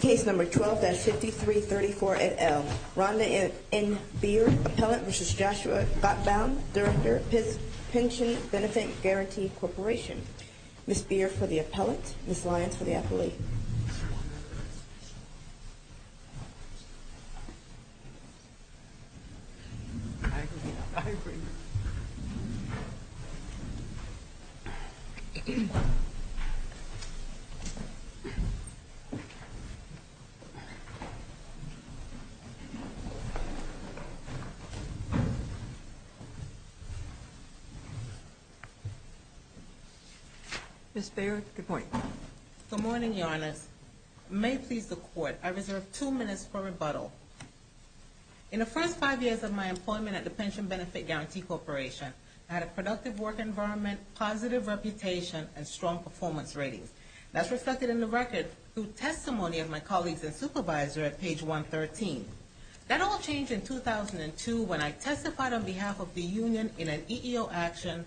Case number 12-5334 at L. Rhonda N. Baird, Appellant v. Joshua Gotbaum, Director of Pension Benefit Guarantee Corporation. Ms. Baird for the Appellant, Ms. Lyons for the Appellate. Ms. Baird, good morning. Good morning, Your Honors. May it please the Court, I reserve two minutes for rebuttal. In the first five years of my employment at the Pension Benefit Guarantee Corporation, I had a productive work environment, positive reputation, and strong performance ratings. That's reflected in the record through testimony of my colleagues and supervisor at page 113. That all changed in 2002 when I testified on behalf of the union in an EEO action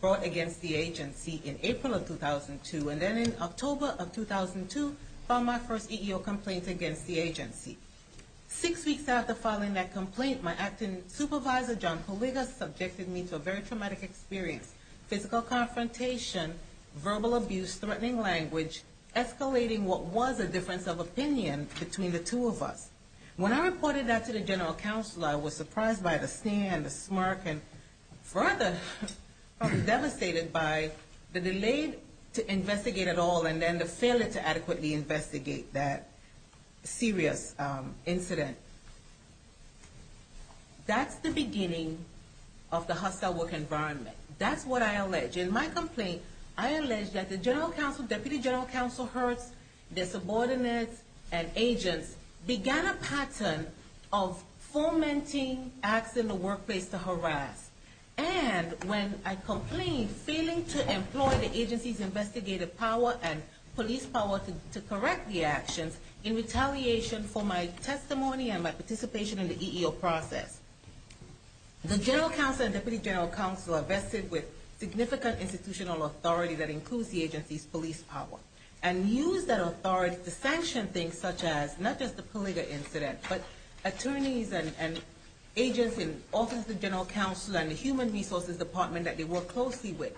brought against the agency in April of 2002. And then in October of 2002, filed my first EEO complaint against the agency. Six weeks after filing that complaint, my acting supervisor, John Kuliga, subjected me to a very traumatic experience, physical confrontation, verbal abuse, threatening language, escalating what was a difference of opinion between the two of us. When I reported that to the general counsel, I was surprised by the stare and the smirk and further devastated by the delay to investigate at all and then the failure to adequately investigate that serious incident. That's the beginning of the hostile work environment. That's what I allege. In my complaint, I allege that the general counsel, deputy general counsel, herds, their subordinates and agents began a pattern of And when I complained, failing to employ the agency's investigative power and police power to correct the actions, in retaliation for my testimony and my participation in the EEO process, the general counsel and deputy general counsel are vested with significant institutional authority that includes the agency's police power and use that authority to sanction things such as not just the Kuliga incident, but attorneys and agents in the Office of the General Counsel and the Human Resources Department that they work closely with.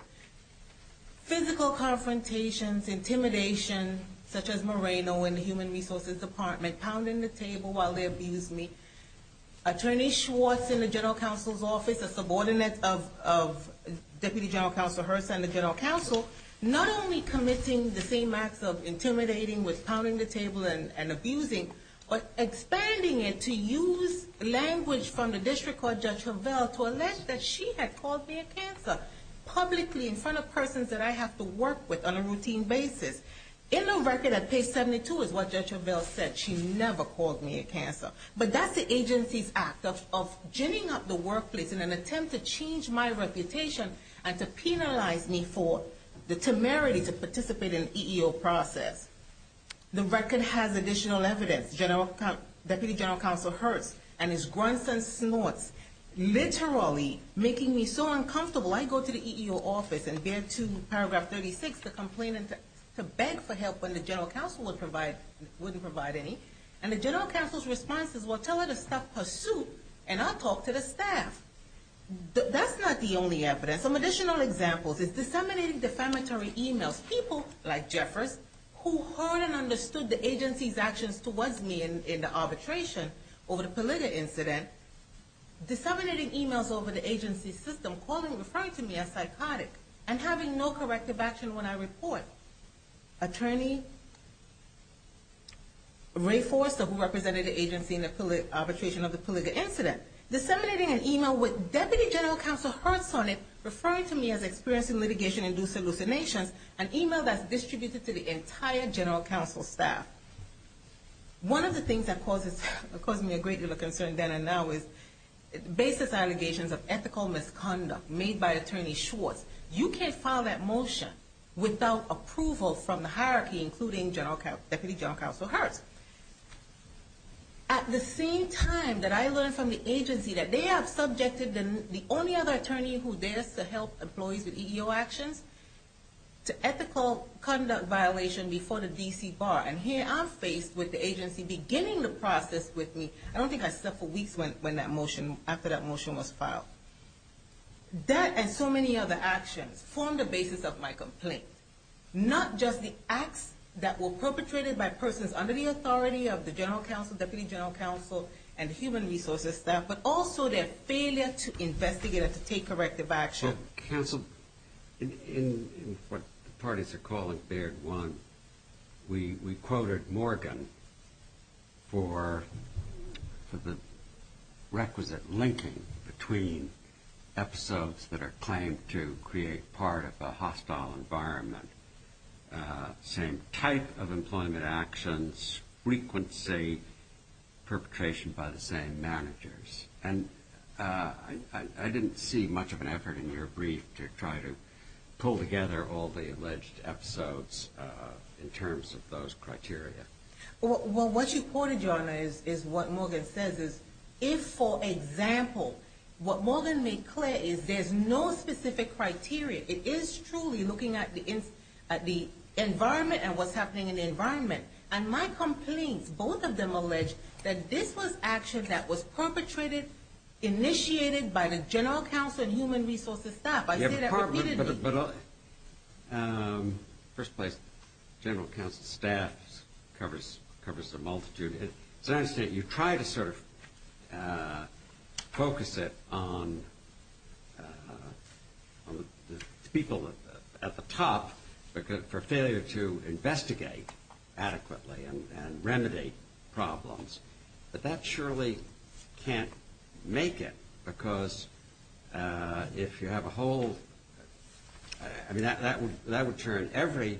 Physical confrontations, intimidation, such as Moreno in the Human Resources Department pounding the table while they abused me. Attorney Schwartz in the general counsel's office, a subordinate of deputy general counsel Hurst and the general counsel, not only committing the same acts of intimidating with pounding the table and abusing, but expanding it to use language from the district court judge Hovell to allege that she had called me a cancer publicly in front of persons that I have to work with on a routine basis. In the record at page 72 is what Judge Hovell said. She never called me a cancer. But that's the agency's act of ginning up the workplace in an attempt to change my reputation and to penalize me for the temerity to participate in the EEO process. The record has additional evidence, deputy general counsel Hurst and his grunts and snorts literally making me so uncomfortable I go to the EEO office and bear to paragraph 36 to complain and to beg for help when the general counsel wouldn't provide any. And the general counsel's response is, well, tell her to stop her suit and I'll talk to the staff. That's not the only evidence. Some additional examples is disseminating defamatory e-mails. People like Jeffress, who heard and understood the agency's actions towards me in the arbitration over the Pulido incident, disseminating e-mails over the agency's system, calling, referring to me as psychotic and having no corrective action when I report. Attorney Ray Forster, who represented the agency in the arbitration of the Pulido incident, disseminating an e-mail with deputy general counsel Hurst on it, referring to me as experiencing litigation-induced hallucinations, an e-mail that's distributed to the entire general counsel staff. One of the things that causes me a great deal of concern then and now is basis allegations of ethical misconduct made by Attorney Schwartz. You can't file that motion without approval from the hierarchy, including deputy general counsel Hurst. At the same time that I learned from the agency that they have subjected the only other attorney who dares to help employees with EEO actions to ethical conduct violation before the D.C. bar. And here I'm faced with the agency beginning the process with me. I don't think I slept for weeks after that motion was filed. That and so many other actions form the basis of my complaint. Not just the acts that were perpetrated by persons under the authority of the general counsel, deputy general counsel, and human resources staff, but also their failure to investigate and to take corrective action. Counsel, in what the parties are calling Baird 1, we quoted Morgan for the requisite linking between episodes that are claimed to create part of a hostile environment, same type of employment actions, frequency, perpetration by the same managers. And I didn't see much of an effort in your brief to try to pull together all the alleged episodes in terms of those criteria. Well, what you quoted, Your Honor, is what Morgan says is if, for example, what Morgan made clear is there's no specific criteria. It is truly looking at the environment and what's happening in the environment. And my complaints, both of them allege that this was action that was perpetrated, initiated by the general counsel and human resources staff. I say that repeatedly. But first place, general counsel staff covers the multitude. It's an understatement. You try to sort of focus it on the people at the top for failure to investigate adequately and remedy problems. But that surely can't make it because if you have a whole – I mean, that would turn every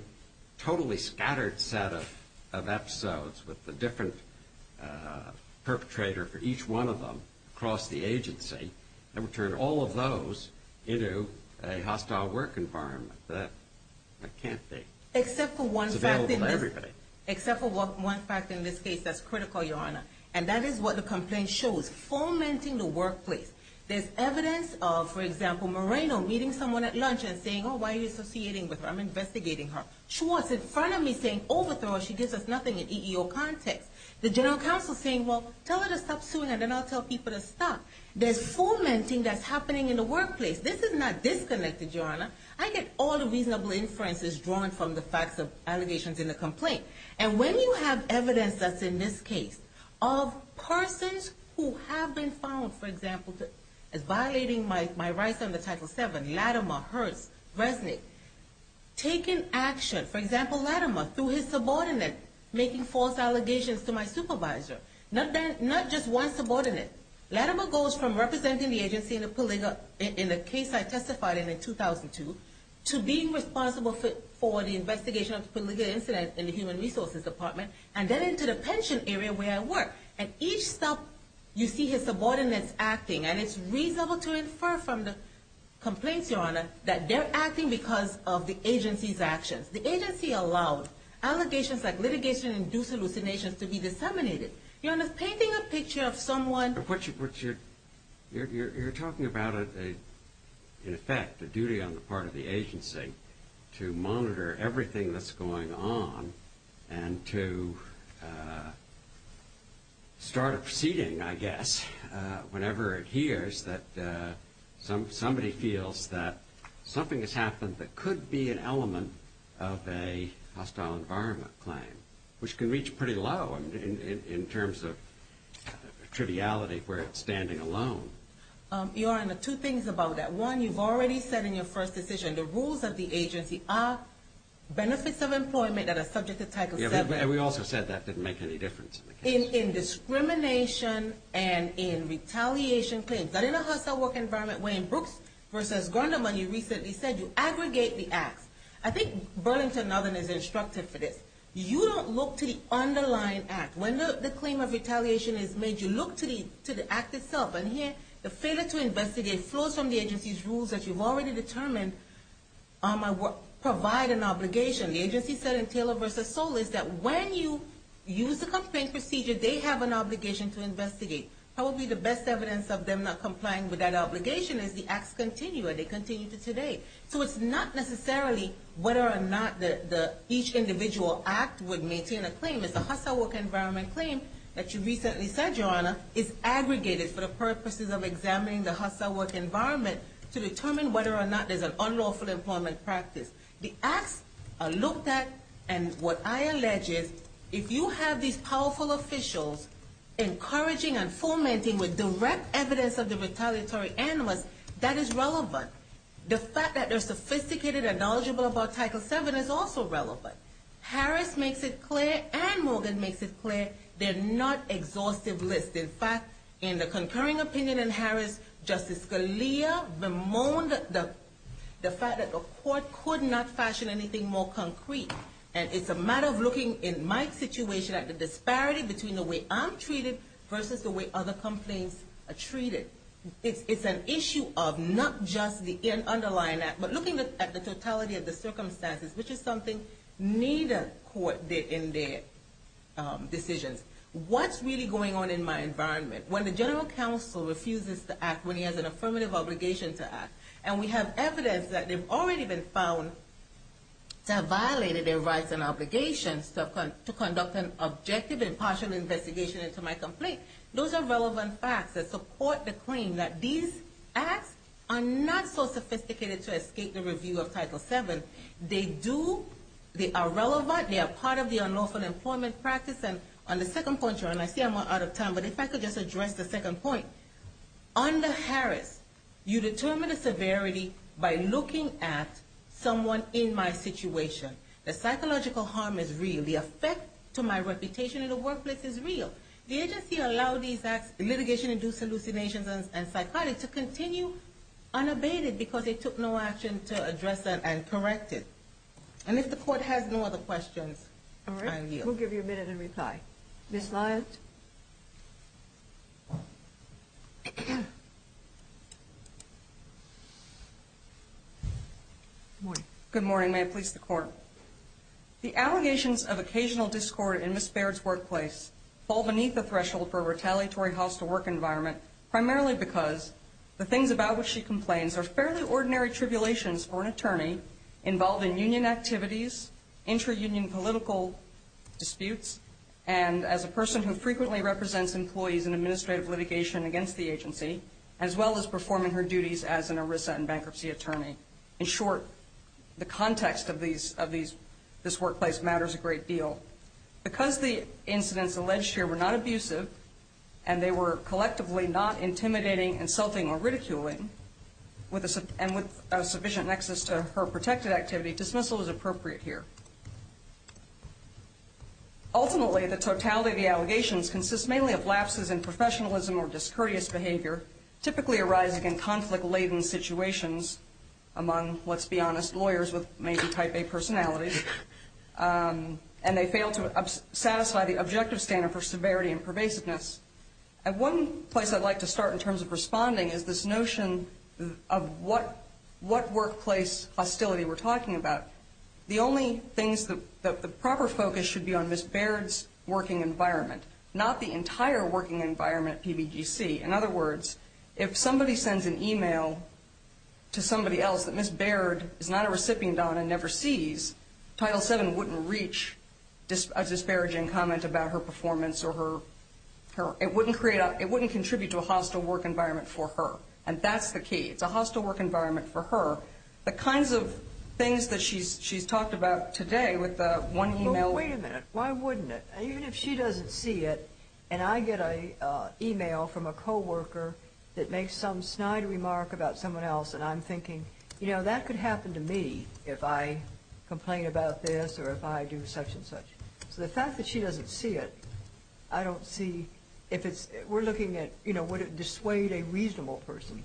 totally scattered set of episodes with a different perpetrator for each one of them across the agency. That would turn all of those into a hostile work environment. That can't be. It's available to everybody. Except for one fact in this case that's critical, Your Honor. And that is what the complaint shows, fomenting the workplace. There's evidence of, for example, Moreno meeting someone at lunch and saying, oh, why are you associating with her? I'm investigating her. Schwartz in front of me saying, overthrow her. She gives us nothing in EEO context. The general counsel saying, well, tell her to stop suing and then I'll tell people to stop. There's fomenting that's happening in the workplace. This is not disconnected, Your Honor. I get all the reasonable inferences drawn from the facts of allegations in the complaint. And when you have evidence that's in this case of persons who have been found, for example, as violating my rights under Title VII, Latimer, Hurst, Resnick, taking action. For example, Latimer, through his subordinate, making false allegations to my supervisor. Not just one subordinate. Latimer goes from representing the agency in the case I testified in in 2002 to being responsible for the investigation of the polygamy incident in the Human Resources Department. And then into the pension area where I work. And each sub, you see his subordinates acting. And it's reasonable to infer from the complaints, Your Honor, that they're acting because of the agency's actions. The agency allowed allegations like litigation-induced hallucinations to be disseminated. Your Honor, painting a picture of someone... You're talking about, in effect, a duty on the part of the agency to monitor everything that's going on and to start a proceeding, I guess, whenever it hears that somebody feels that something has happened that could be an element of a hostile environment claim. Which can reach pretty low in terms of triviality where it's standing alone. Your Honor, two things about that. One, you've already said in your first decision, the rules of the agency are benefits of employment that are subject to Title VII. Yeah, but we also said that didn't make any difference in the case. In discrimination and in retaliation claims. That in a hostile work environment, Wayne Brooks versus Grundleman, you recently said, you aggregate the acts. I think Burlington Northern is instructive for this. You don't look to the underlying act. When the claim of retaliation is made, you look to the act itself. And here, the failure to investigate flows from the agency's rules that you've already determined provide an obligation. The agency said in Taylor versus Sowell is that when you use the complaint procedure, they have an obligation to investigate. Probably the best evidence of them not complying with that obligation is the acts continue. They continue to today. So it's not necessarily whether or not each individual act would maintain a claim. It's a hostile work environment claim that you recently said, Your Honor, is aggregated for the purposes of examining the hostile work environment to determine whether or not there's an unlawful employment practice. The acts are looked at, and what I allege is if you have these powerful officials encouraging and fomenting with direct evidence of the retaliatory animals, that is relevant. The fact that they're sophisticated and knowledgeable about Title VII is also relevant. Harris makes it clear and Morgan makes it clear they're not exhaustive lists. In fact, in the concurring opinion in Harris, Justice Scalia bemoaned the fact that the court could not fashion anything more concrete. And it's a matter of looking in my situation at the disparity between the way I'm treated versus the way other complaints are treated. It's an issue of not just the underlying act, but looking at the totality of the circumstances, which is something neither court did in their decisions. What's really going on in my environment? When the general counsel refuses to act when he has an affirmative obligation to act, and we have evidence that they've already been found to have violated their rights and obligations to conduct an objective and partial investigation into my complaint, those are relevant facts that support the claim that these acts are not so sophisticated to escape the review of Title VII. They are relevant. They are part of the unlawful employment practice. And on the second point, Joanne, I see I'm out of time, but if I could just address the second point. Under Harris, you determine the severity by looking at someone in my situation. The psychological harm is real. The effect to my reputation in the workplace is real. The agency allowed these litigation-induced hallucinations and psychotics to continue unabated because they took no action to address that and correct it. And if the court has no other questions, I yield. All right. We'll give you a minute and reply. Ms. Lyons? Good morning. May it please the Court. The allegations of occasional discord in Ms. Baird's workplace fall beneath the threshold for a retaliatory house-to-work environment, primarily because the things about which she complains are fairly ordinary tribulations for an attorney involved in union activities, intra-union political disputes, and as a person who frequently represents employees in administrative litigation against the agency, as well as performing her duties as an ERISA and bankruptcy attorney. In short, the context of this workplace matters a great deal. Because the incidents alleged here were not abusive and they were collectively not intimidating, insulting, or ridiculing and with a sufficient nexus to her protected activity, dismissal is appropriate here. Ultimately, the totality of the allegations consists mainly of lapses in professionalism or discourteous behavior typically arising in conflict-laden situations among, let's be honest, lawyers with maybe Type A personalities. And they fail to satisfy the objective standard for severity and pervasiveness. And one place I'd like to start in terms of responding is this notion of what workplace hostility we're talking about. The only things that the proper focus should be on is Ms. Baird's working environment, not the entire working environment at PBGC. In other words, if somebody sends an e-mail to somebody else that Ms. Baird is not a recipient on and never sees, Title VII wouldn't reach a disparaging comment about her performance or her, it wouldn't create, it wouldn't contribute to a hostile work environment for her. And that's the key. It's a hostile work environment for her. The kinds of things that she's talked about today with the one e-mail. Well, wait a minute. Why wouldn't it? Even if she doesn't see it and I get an e-mail from a co-worker that makes some snide remark about someone else and I'm thinking, you know, that could happen to me if I complain about this or if I do such and such. So the fact that she doesn't see it, I don't see if it's, we're looking at, you know, would it dissuade a reasonable person.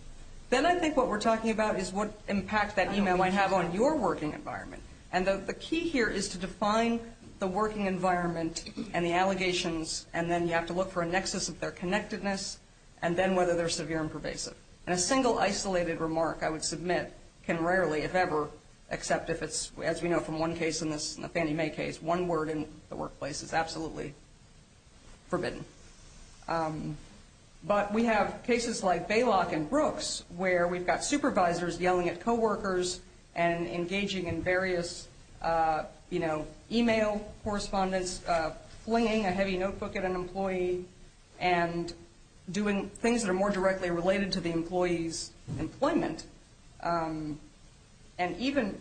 Then I think what we're talking about is what impact that e-mail might have on your working environment. And the key here is to define the working environment and the allegations and then you have to look for a nexus of their connectedness and then whether they're severe and pervasive. And a single isolated remark, I would submit, can rarely, if ever, except if it's, as we know from one case in this, the Fannie Mae case, one word in the workplace is absolutely forbidden. But we have cases like Baylock and Brooks where we've got supervisors yelling at co-workers and engaging in various, you know, e-mail correspondence, flinging a heavy notebook at an employee and doing things that are more directly related to the employee's employment. And even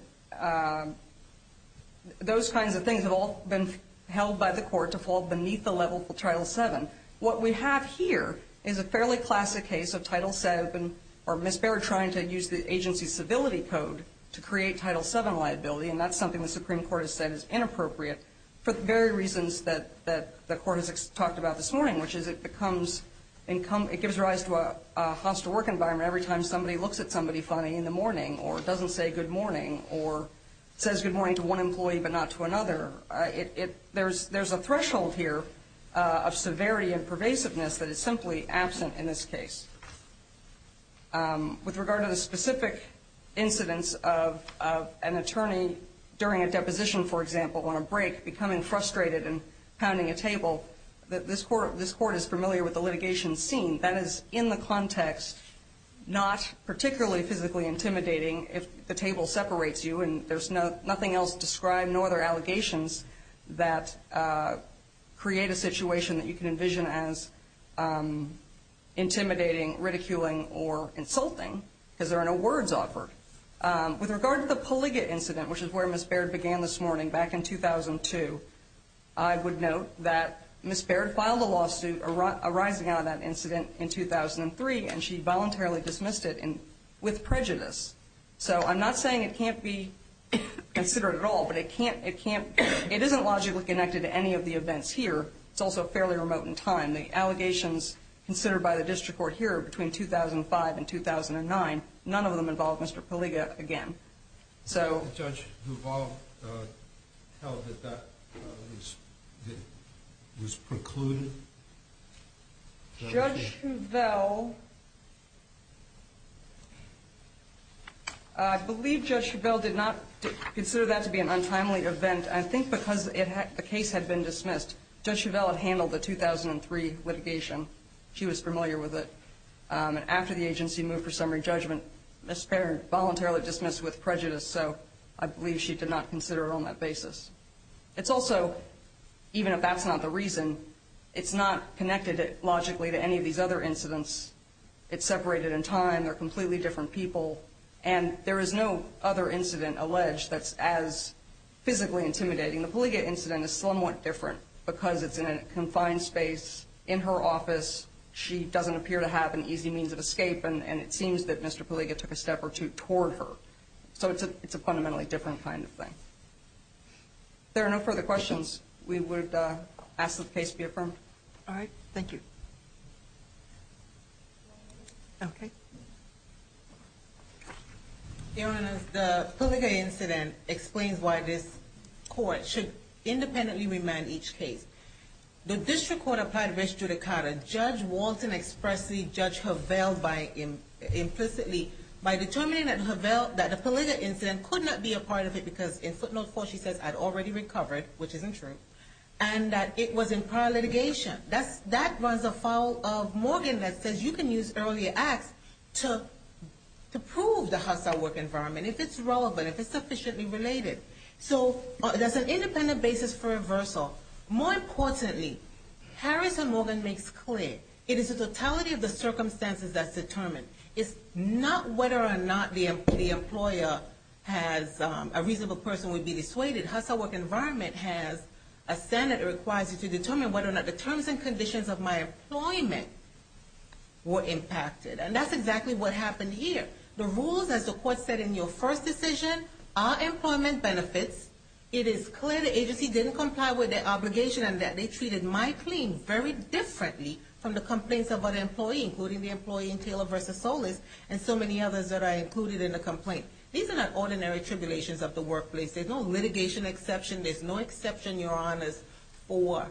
those kinds of things have all been held by the court to fall beneath the level of Title VII. What we have here is a fairly classic case of Title VII or Ms. Baird trying to use the agency's civility code to create Title VII liability and that's something the Supreme Court has said is inappropriate for the very reasons that the court has talked about this morning, which is it becomes, it gives rise to a hostile work environment where every time somebody looks at somebody funny in the morning or doesn't say good morning or says good morning to one employee but not to another. There's a threshold here of severity and pervasiveness that is simply absent in this case. With regard to the specific incidents of an attorney during a deposition, for example, on a break, becoming frustrated and pounding a table, this court is familiar with the litigation scene. That is in the context not particularly physically intimidating if the table separates you and there's nothing else described nor other allegations that create a situation that you can envision as intimidating, ridiculing, or insulting because there are no words offered. With regard to the polygate incident, which is where Ms. Baird began this morning back in 2002, I would note that Ms. Baird filed a lawsuit arising out of that incident in 2003 and she voluntarily dismissed it with prejudice. So I'm not saying it can't be considered at all, but it can't, it can't, it isn't logically connected to any of the events here. It's also fairly remote in time. The allegations considered by the district court here between 2005 and 2009, none of them involved Mr. Polyga again. Did the judge who involved tell that that was precluded? Judge Chevelle... I believe Judge Chevelle did not consider that to be an untimely event. I think because the case had been dismissed. Judge Chevelle had handled the 2003 litigation. She was familiar with it. And after the agency moved for summary judgment, Ms. Baird voluntarily dismissed it with prejudice. So I believe she did not consider it on that basis. It's also, even if that's not the reason, it's not connected logically to any of these other incidents. It's separated in time. They're completely different people. And there is no other incident alleged that's as physically intimidating. The polygate incident is somewhat different because it's in a confined space in her office. She doesn't appear to have an easy means of escape. And it seems that Mr. Polyga took a step or two toward her. So it's a fundamentally different kind of thing. If there are no further questions, we would ask that the case be affirmed. All right. Thank you. Your Honor, the polygate incident explains why this court should independently remand each case. The district court applied res judicata. Judge Walton expressly judged Chevelle implicitly by determining that the polygate incident could not be a part of it because in footnote four she says, I'd already recovered, which isn't true, and that it was in prior litigation. That runs afoul of Morgan that says you can use earlier acts to prove the hostile work environment, if it's relevant, if it's sufficiently related. So there's an independent basis for reversal. More importantly, Harris and Morgan makes clear it is the totality of the circumstances that's determined. It's not whether or not the employer has a reasonable person would be dissuaded. Hostile work environment has a standard that requires you to determine whether or not the terms and conditions of my employment were impacted. And that's exactly what happened here. The rules, as the court said in your first decision, are employment benefits. It is clear the agency didn't comply with their obligation and that they treated my claim very differently from the complaints of other employees, including the employee in Taylor v. Solis and so many others that are included in the complaint. These are not ordinary tribulations of the workplace. There's no litigation exception. There's no exception, Your Honors, for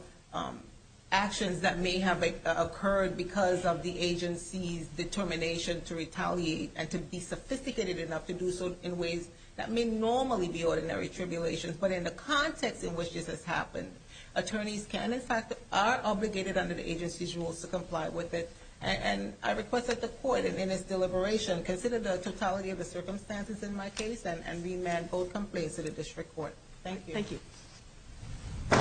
actions that may have occurred because of the agency's determination to retaliate and to be sophisticated enough to do so in ways that may normally be ordinary tribulations. But in the context in which this has happened, attorneys can, in fact, are obligated under the agency's rules to comply with it. And I request that the court, in its deliberation, consider the totality of the circumstances in my case and remand both complaints to the district court. Thank you. Thank you.